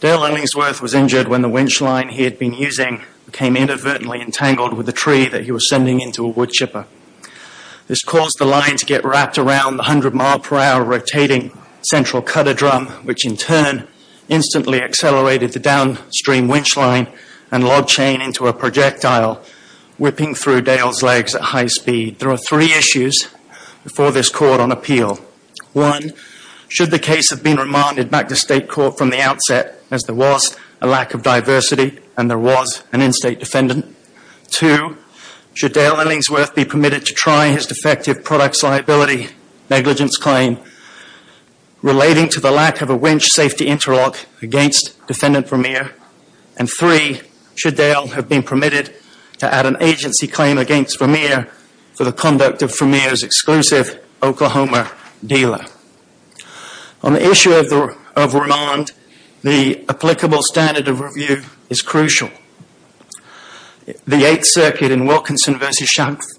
Dale Ellingsworth was injured when the winch line he had been using became inadvertently entangled with a tree that he was sending into a wood chipper. This caused the line to get wrapped around the 100 mph rotating central cutter drum which in turn instantly accelerated the downstream winch line and log chain into a projectile, whipping through Dale's legs at high speed. There are three issues before this court on appeal. One, should the case have been remanded back to state court from the outset as there was a lack of diversity and there was an in-state defendant? Two, should Dale Ellingsworth be permitted to try his defective products liability negligence claim relating to the lack of a winch safety interlock against defendant Vermeer? And three, should Dale have been permitted to add an agency claim against Vermeer for the conduct of Vermeer's exclusive Oklahoma dealer? On the issue of remand, the applicable standard of review is crucial. The Eighth Circuit in Wilkinson v.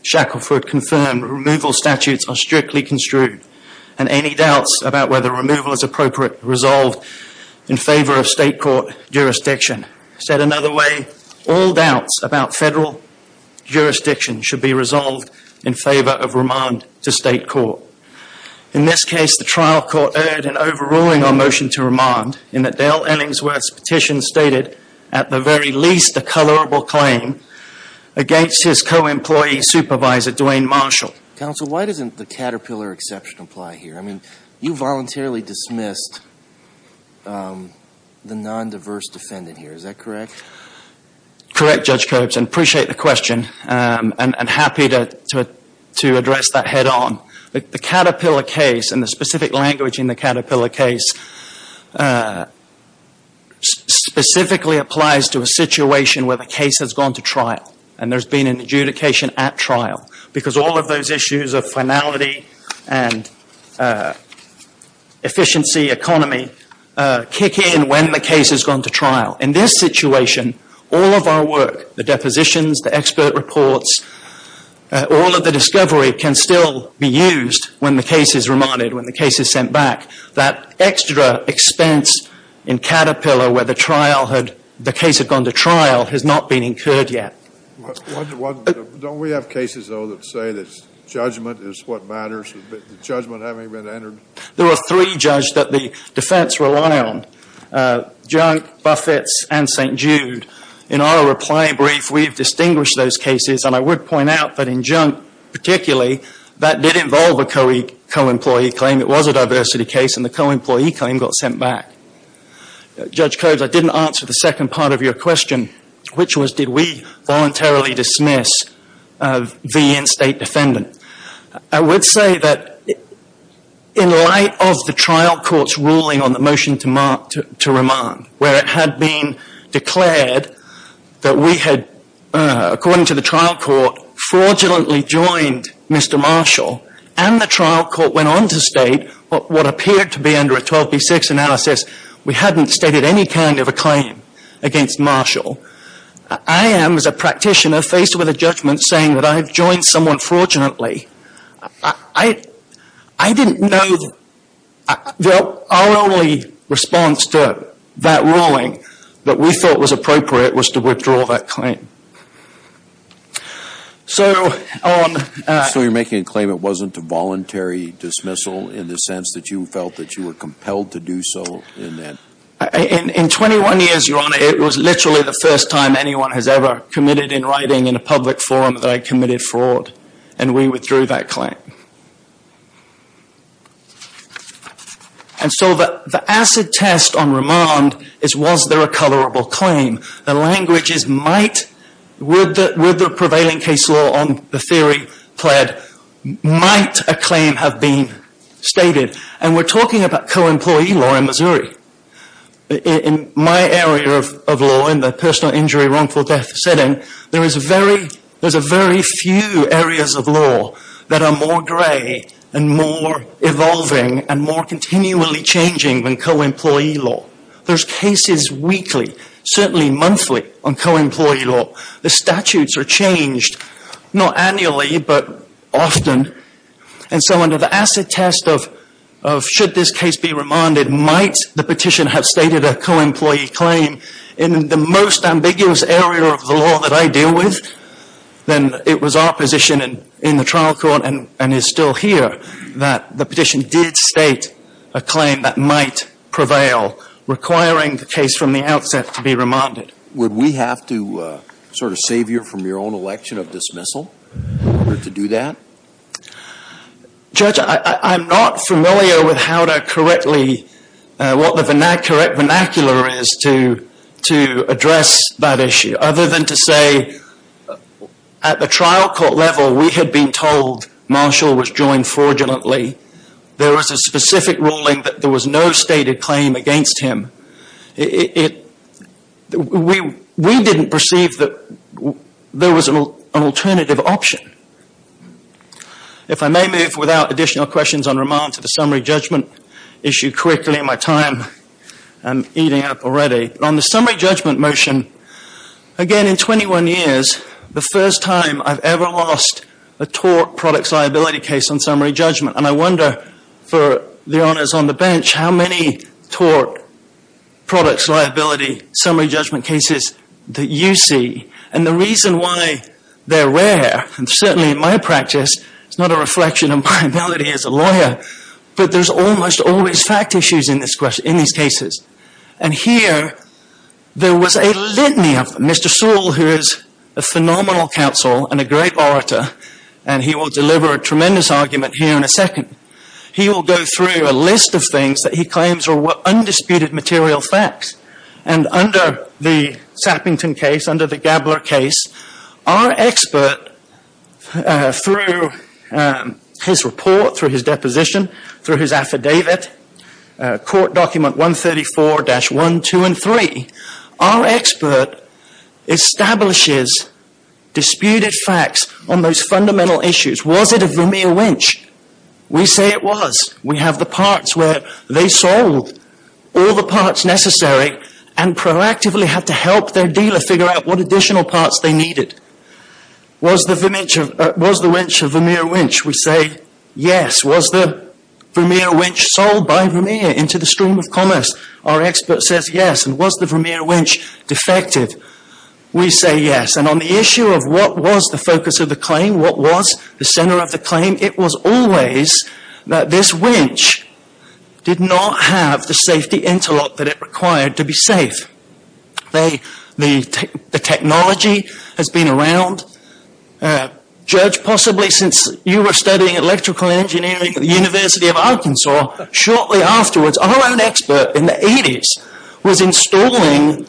Shackleford confirmed removal statutes are strictly construed and any doubts about whether removal is appropriate resolved in favor of state court jurisdiction. Said another way, all doubts about federal jurisdiction should be resolved in favor of remand to state court. In this case, the trial court erred in overruling our motion to remand in that Dale Ellingsworth's petition stated at the very least a colorable claim against his co-employee supervisor, Duane Marshall. Counsel, why doesn't the caterpillar exception apply here? I mean, you voluntarily dismissed the non-diverse defendant here, is that correct? Correct, Judge Coates. I appreciate the question and happy to address that head on. The caterpillar case and the specific language in the caterpillar case specifically applies to a situation where the case has gone to trial and there's been an adjudication at trial because all of those issues of finality and efficiency economy kick in when the case has gone to trial. In this situation, all of our work, the depositions, the expert reports, all of the discovery can still be used when the case is remanded, when the case is sent back. That extra expense in caterpillar where the trial had, the case had gone to trial has not been incurred yet. Don't we have cases, though, that say that judgment is what matters, but the judgment haven't even entered? There are three judges that the defense rely on, Junk, Buffetts, and St. Jude. In our reply brief, we've distinguished those cases, and I would point out that in Junk particularly, that did involve a co-employee claim. It was a diversity case, and the co-employee claim got sent back. Judge Coates, I didn't answer the second part of your question, which was did we voluntarily dismiss the in-state defendant. I would say that in light of the trial court's ruling on the motion to mark, to remand, where it had been declared that we had, according to the trial court, fraudulently joined Mr. Marshall, and the trial court went on to state what appeared to be under a 12B6 analysis, we hadn't stated any kind of a claim against Marshall. I am, as a practitioner, faced with a judgment saying that I have joined someone fraudulently. I didn't know that our only response to that ruling that we thought was appropriate was to withdraw that claim. So on... So you're making a claim it wasn't a voluntary dismissal in the sense that you felt that you were compelled to do so in that... In 21 years, Your Honor, it was literally the first time anyone has ever committed in writing in a public forum that I committed fraud, and we withdrew that claim. And so the acid test on remand is was there a colorable claim? The language is might, with the prevailing case law on the theory pled, might a claim have been stated. And we're talking about co-employee law in Missouri. In my area of law, in the personal injury wrongful death setting, there is a very few areas of law that are more gray and more evolving and more continually changing than co-employee law. There's cases weekly, certainly monthly, on co-employee law. The statutes are changed, not annually, but often. And so under the acid test of should this case be remanded, might the petition have stated a co-employee claim, in the most ambiguous area of the law that I deal with, then it was our position in the trial court and is still here that the petition did state a claim that might prevail, requiring the case from the outset to be remanded. Would we have to sort of save you from your own election of dismissal in order to do that? Judge, I'm not familiar with how to correctly, what the correct vernacular is to address that issue, other than to say at the trial court level we had been told Marshall was joined fraudulently. There was a specific ruling that there was no stated claim against him. We didn't perceive that there was an alternative option. If I may move without additional questions on remand to the summary judgment issue quickly, my time is eating up already. On the summary judgment motion, again in 21 years, the first time I've ever lost a tort product liability case on summary judgment. And I wonder, for the honors on the bench, how many tort products liability summary judgment cases that you see. And the reason why they're rare, and certainly in my practice, it's not a reflection of my ability as a lawyer, but there's almost always fact issues in these cases. And here, there was a litany of them. Mr. Sewell, who is a phenomenal counsel and a great orator, and he will deliver a tremendous argument here in a second, he will go through a list of things that he claims are undisputed material facts. And under the Sappington case, under the Gabler case, our expert, through his report, through his deposition, through his affidavit, court document 134-1, 2, and 3, our expert establishes disputed facts on those fundamental issues. Was it a Vermeer winch? We say it was. We have the parts where they sold all the parts necessary and proactively had to help their dealer figure out what additional parts they needed. Was the winch a Vermeer winch? We say yes. Was the Vermeer winch sold by Vermeer into the stream of commerce? Our expert says yes. And was the Vermeer winch defective? We say yes. And on the issue of what was the focus of the claim, what was the center of the claim, it was always that this winch did not have the safety interlock that it required to be safe. The technology has been around. Judge, possibly since you were studying electrical engineering at the University of Arkansas, shortly afterwards, our own expert in the 80s was installing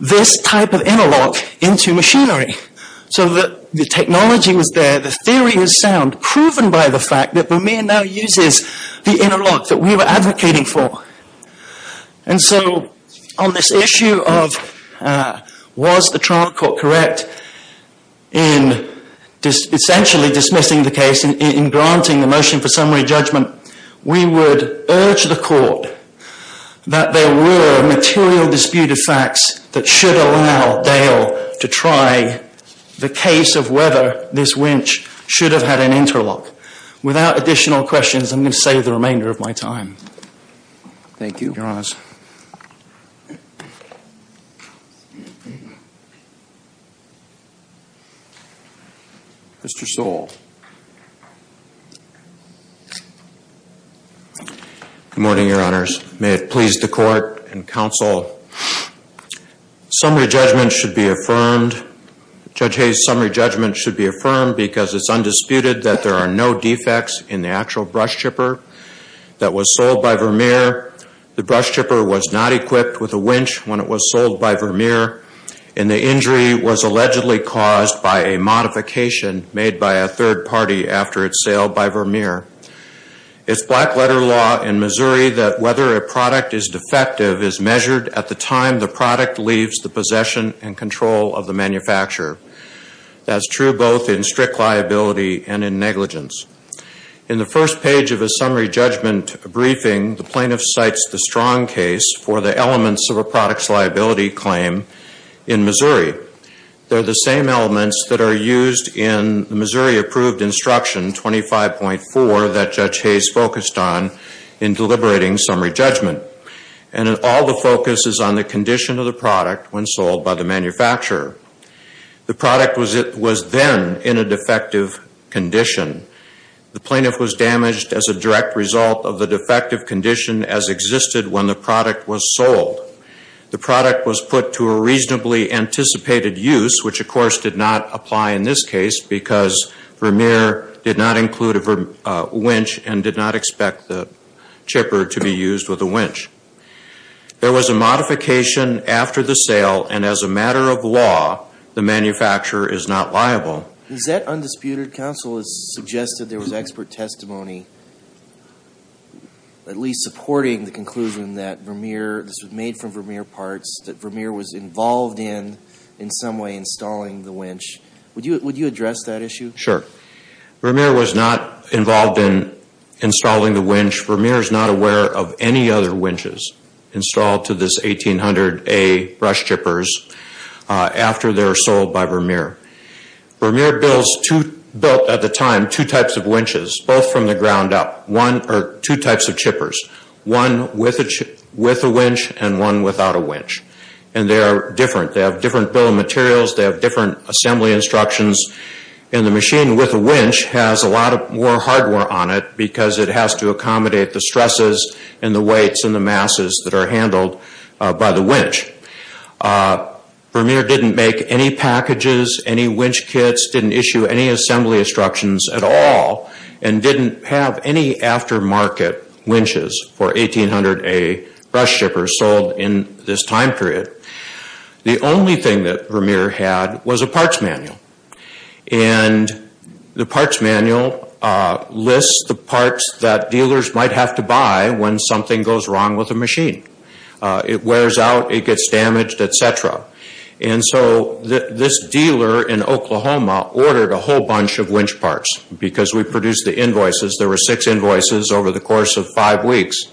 this type of interlock into machinery. So the technology was there, the theory was sound, proven by the fact that Vermeer now uses the interlock that we were advocating for. And so on this issue of was the trial court correct in essentially dismissing the case and granting the motion for summary judgment, we would urge the court that there were material disputed facts that should allow Dale to try the case of whether this winch should have had an interlock. Without additional questions, I'm going to save the remainder of my time. Thank you, Your Honor. Mr. Stoll. Good morning, Your Honors. May it please the court and counsel, summary judgment should be affirmed. Judge Hayes' summary judgment should be affirmed because it's undisputed that there are no defects in the actual brush chipper that was sold by Vermeer. The brush chipper was not equipped with a winch when it was sold by Vermeer, and the injury was allegedly caused by a modification made by a third party after its sale by Vermeer. It's black letter law in Missouri that whether a product is defective is measured at the time the product leaves the possession and control of the manufacturer. That's true both in strict liability and in negligence. In the first page of a summary judgment briefing, the plaintiff cites the strong case for the elements of a product's liability claim in Missouri. They're the same elements that are used in the Missouri approved instruction 25.4 that Judge Hayes focused on in deliberating summary judgment. And all the focus is on the condition of the product when sold by the manufacturer. The product was then in a defective condition. The plaintiff was damaged as a direct result of the defective condition as existed when the product was sold. The product was put to a reasonably anticipated use, which of course did not apply in this case because Vermeer did not include a winch and did not expect the chipper to be used with a winch. There was a modification after the sale, and as a matter of law, the manufacturer is not liable. Is that undisputed? Counsel has suggested there was expert testimony at least supporting the conclusion that this was made from Vermeer parts, that Vermeer was involved in, in some way, installing the winch. Would you address that issue? Sure. Vermeer was not involved in installing the winch. Vermeer is not aware of any other winches installed to this 1800A brush chippers after they were sold by Vermeer. Vermeer built at the time two types of winches, both from the ground up, or two types of chippers, one with a winch and one without a winch, and they are different. They have different bill of materials. They have different assembly instructions, and the machine with a winch has a lot more hardware on it because it has to accommodate the stresses and the weights and the masses that are handled by the winch. Vermeer didn't make any packages, any winch kits, didn't issue any assembly instructions at all, and didn't have any aftermarket winches for 1800A brush chippers sold in this time period. The only thing that Vermeer had was a parts manual, and the parts manual lists the parts that dealers might have to buy when something goes wrong with a machine. It wears out, it gets damaged, etc. And so this dealer in Oklahoma ordered a whole bunch of winch parts because we produced the invoices. There were six invoices over the course of five weeks.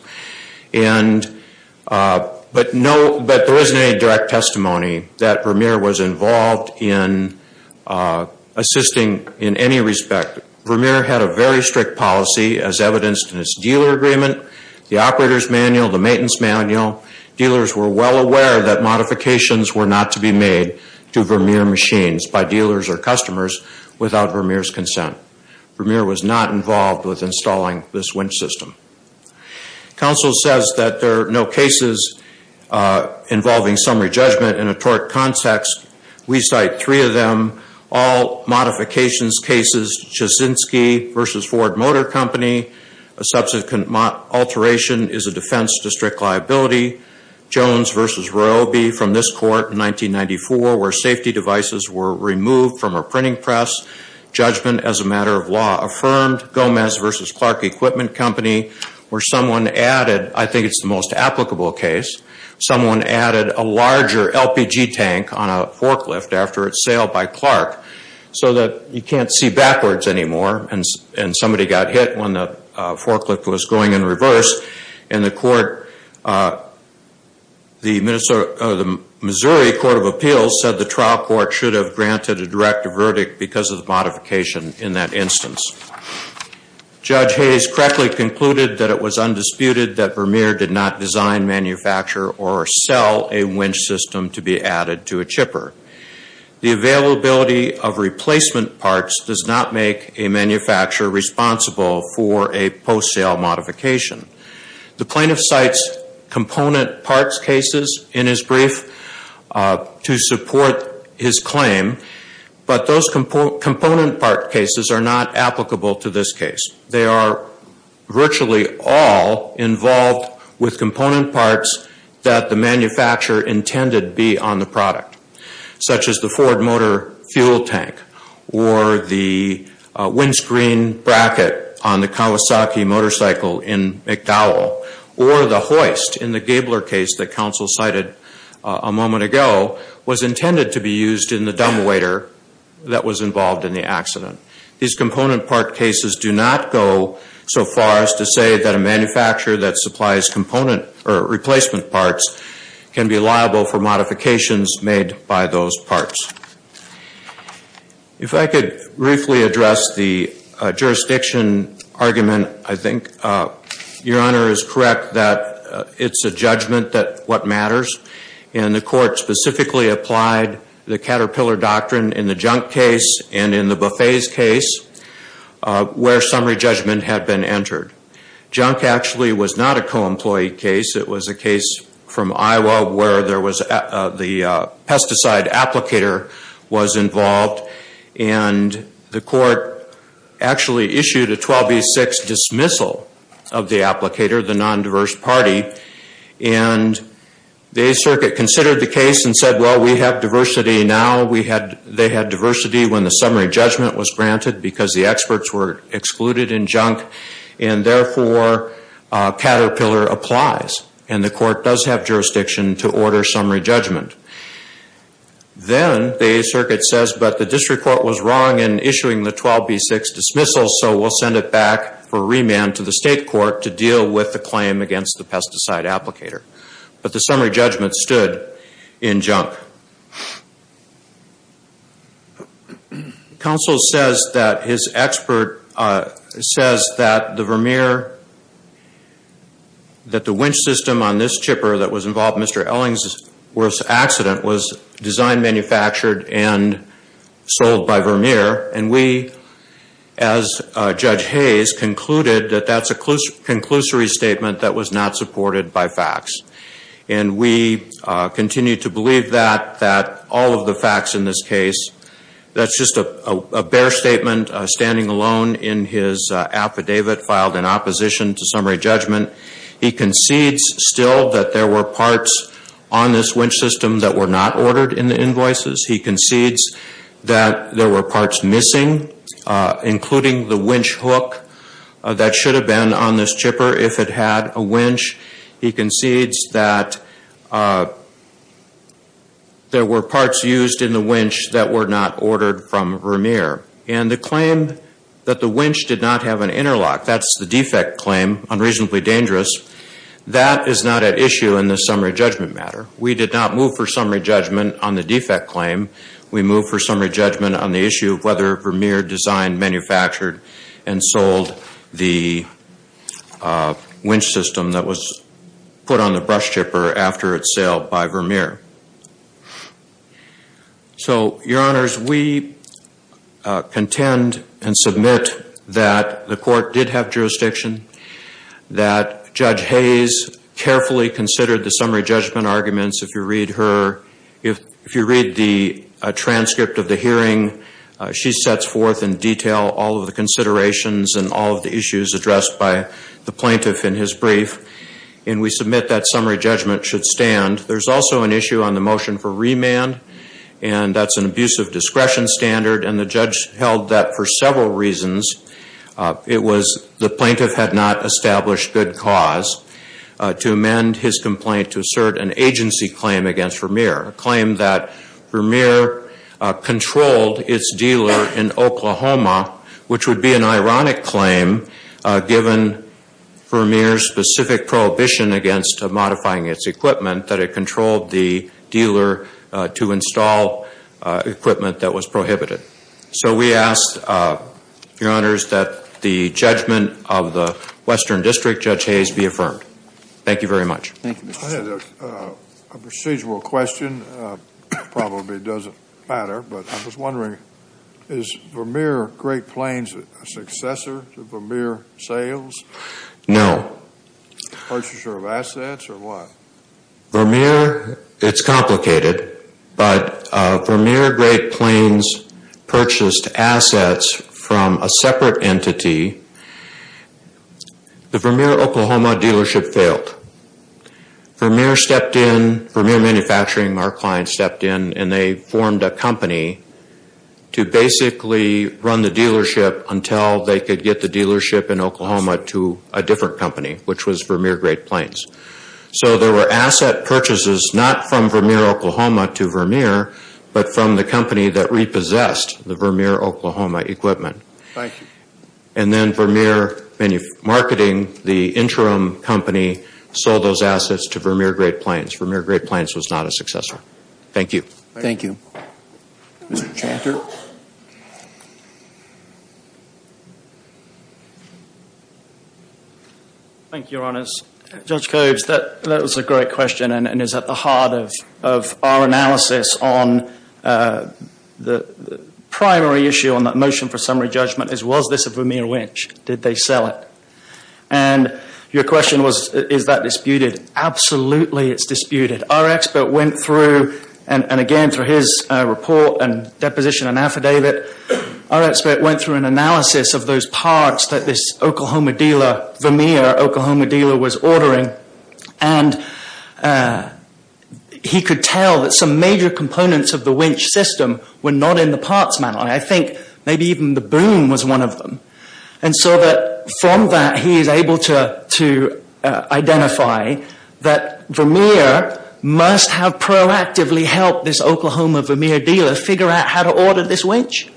But there isn't any direct testimony that Vermeer was involved in assisting in any respect. Vermeer had a very strict policy as evidenced in its dealer agreement. The operator's manual, the maintenance manual, dealers were well aware that modifications were not to be made to Vermeer machines by dealers or customers without Vermeer's consent. Vermeer was not involved with installing this winch system. Counsel says that there are no cases involving summary judgment in a tort context. We cite three of them. All modifications cases, Chesinski v. Ford Motor Company. A subsequent alteration is a defense district liability. Jones v. Royalby from this court in 1994 where safety devices were removed from a printing press. Judgment as a matter of law affirmed. Gomez v. Clark Equipment Company where someone added, I think it's the most applicable case, someone added a larger LPG tank on a forklift after its sale by Clark so that you can't see backwards anymore. And somebody got hit when the forklift was going in reverse. And the Missouri Court of Appeals said the trial court should have granted a direct verdict because of the modification in that instance. Judge Hayes correctly concluded that it was undisputed that Vermeer did not design, manufacture, or sell a winch system to be added to a chipper. The availability of replacement parts does not make a manufacturer responsible for a post-sale modification. The plaintiff cites component parts cases in his brief to support his claim. But those component part cases are not applicable to this case. They are virtually all involved with component parts that the manufacturer intended be on the product, such as the Ford motor fuel tank or the windscreen bracket on the Kawasaki motorcycle in McDowell or the hoist in the Gabler case that counsel cited a moment ago was intended to be used in the dumbwaiter that was involved in the accident. These component part cases do not go so far as to say that a manufacturer that supplies replacement parts can be liable for modifications made by those parts. If I could briefly address the jurisdiction argument, I think. Your Honor is correct that it's a judgment that what matters. And the court specifically applied the caterpillar doctrine in the junk case and in the buffet's case where summary judgment had been entered. Junk actually was not a co-employee case. It was a case from Iowa where the pesticide applicator was involved. And the court actually issued a 12B6 dismissal of the applicator, the non-diverse party. And the 8th Circuit considered the case and said, well, we have diversity now. They had diversity when the summary judgment was granted because the experts were excluded in junk. And therefore, caterpillar applies. And the court does have jurisdiction to order summary judgment. Then the 8th Circuit says, but the district court was wrong in issuing the 12B6 dismissal, so we'll send it back for remand to the state court to deal with the claim against the pesticide applicator. But the summary judgment stood in junk. Counsel says that his expert says that the Vermeer, that the winch system on this chipper that was involved in Mr. Ellingworth's accident was designed, manufactured, and sold by Vermeer. And we, as Judge Hayes, concluded that that's a conclusory statement that was not supported by facts. And we continue to believe that, that all of the facts in this case, that's just a bare statement standing alone in his affidavit filed in opposition to summary judgment. He concedes still that there were parts on this winch system that were not ordered in the invoices. He concedes that there were parts missing, including the winch hook, that should have been on this chipper if it had a winch. He concedes that there were parts used in the winch that were not ordered from Vermeer. And the claim that the winch did not have an interlock, that's the defect claim, unreasonably dangerous, that is not at issue in the summary judgment matter. We did not move for summary judgment on the defect claim. We moved for summary judgment on the issue of whether Vermeer designed, manufactured, and sold the winch system that was put on the brush chipper after its sale by Vermeer. So, Your Honors, we contend and submit that the court did have jurisdiction, that Judge Hayes carefully considered the summary judgment arguments. If you read her, if you read the transcript of the hearing, she sets forth in detail all of the considerations and all of the issues addressed by the plaintiff in his brief. And we submit that summary judgment should stand. There's also an issue on the motion for remand, and that's an abuse of discretion standard, and the judge held that for several reasons. It was the plaintiff had not established good cause to amend his complaint to assert an agency claim against Vermeer, a claim that Vermeer controlled its dealer in Oklahoma, which would be an ironic claim given Vermeer's specific prohibition against modifying its equipment, that it controlled the dealer to install equipment that was prohibited. So we ask, Your Honors, that the judgment of the Western District Judge Hayes be affirmed. Thank you very much. Thank you, Mr. Chairman. I had a procedural question. Probably doesn't matter, but I was wondering, is Vermeer Great Plains a successor to Vermeer Sales? No. Purchaser of assets or what? Vermeer, it's complicated, but Vermeer Great Plains purchased assets from a separate entity. The Vermeer Oklahoma dealership failed. Vermeer stepped in, Vermeer Manufacturing, our client, stepped in, and they formed a company to basically run the dealership until they could get the dealership in Oklahoma to a different company, which was Vermeer Great Plains. So there were asset purchases not from Vermeer Oklahoma to Vermeer, but from the company that repossessed the Vermeer Oklahoma equipment. Thank you. And then Vermeer Marketing, the interim company, sold those assets to Vermeer Great Plains. Vermeer Great Plains was not a successor. Thank you. Mr. Chanter. Thank you, Your Honors. Judge Cobes, that was a great question and is at the heart of our analysis on the primary issue on that motion for summary judgment, is was this a Vermeer winch? Did they sell it? And your question was, is that disputed? Absolutely, it's disputed. Our expert went through, and again, through his report and deposition and affidavit, our expert went through an analysis of those parts that this Oklahoma dealer, Vermeer Oklahoma dealer, was ordering. And he could tell that some major components of the winch system were not in the parts manual. I think maybe even the boom was one of them. And so from that, he is able to identify that Vermeer must have proactively helped this Oklahoma Vermeer dealer figure out how to order this winch.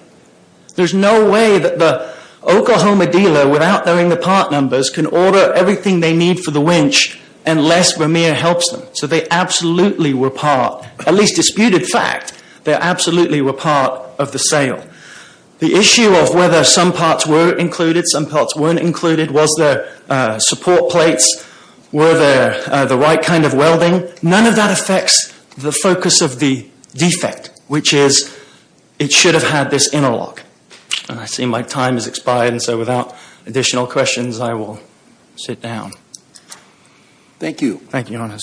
There's no way that the Oklahoma dealer, without knowing the part numbers, can order everything they need for the winch unless Vermeer helps them. So they absolutely were part, at least disputed fact, they absolutely were part of the sale. The issue of whether some parts were included, some parts weren't included, was there support plates, were there the right kind of welding, none of that affects the focus of the defect, which is it should have had this interlock. And I see my time has expired, and so without additional questions, I will sit down. Thank you. Thank you, Your Honor.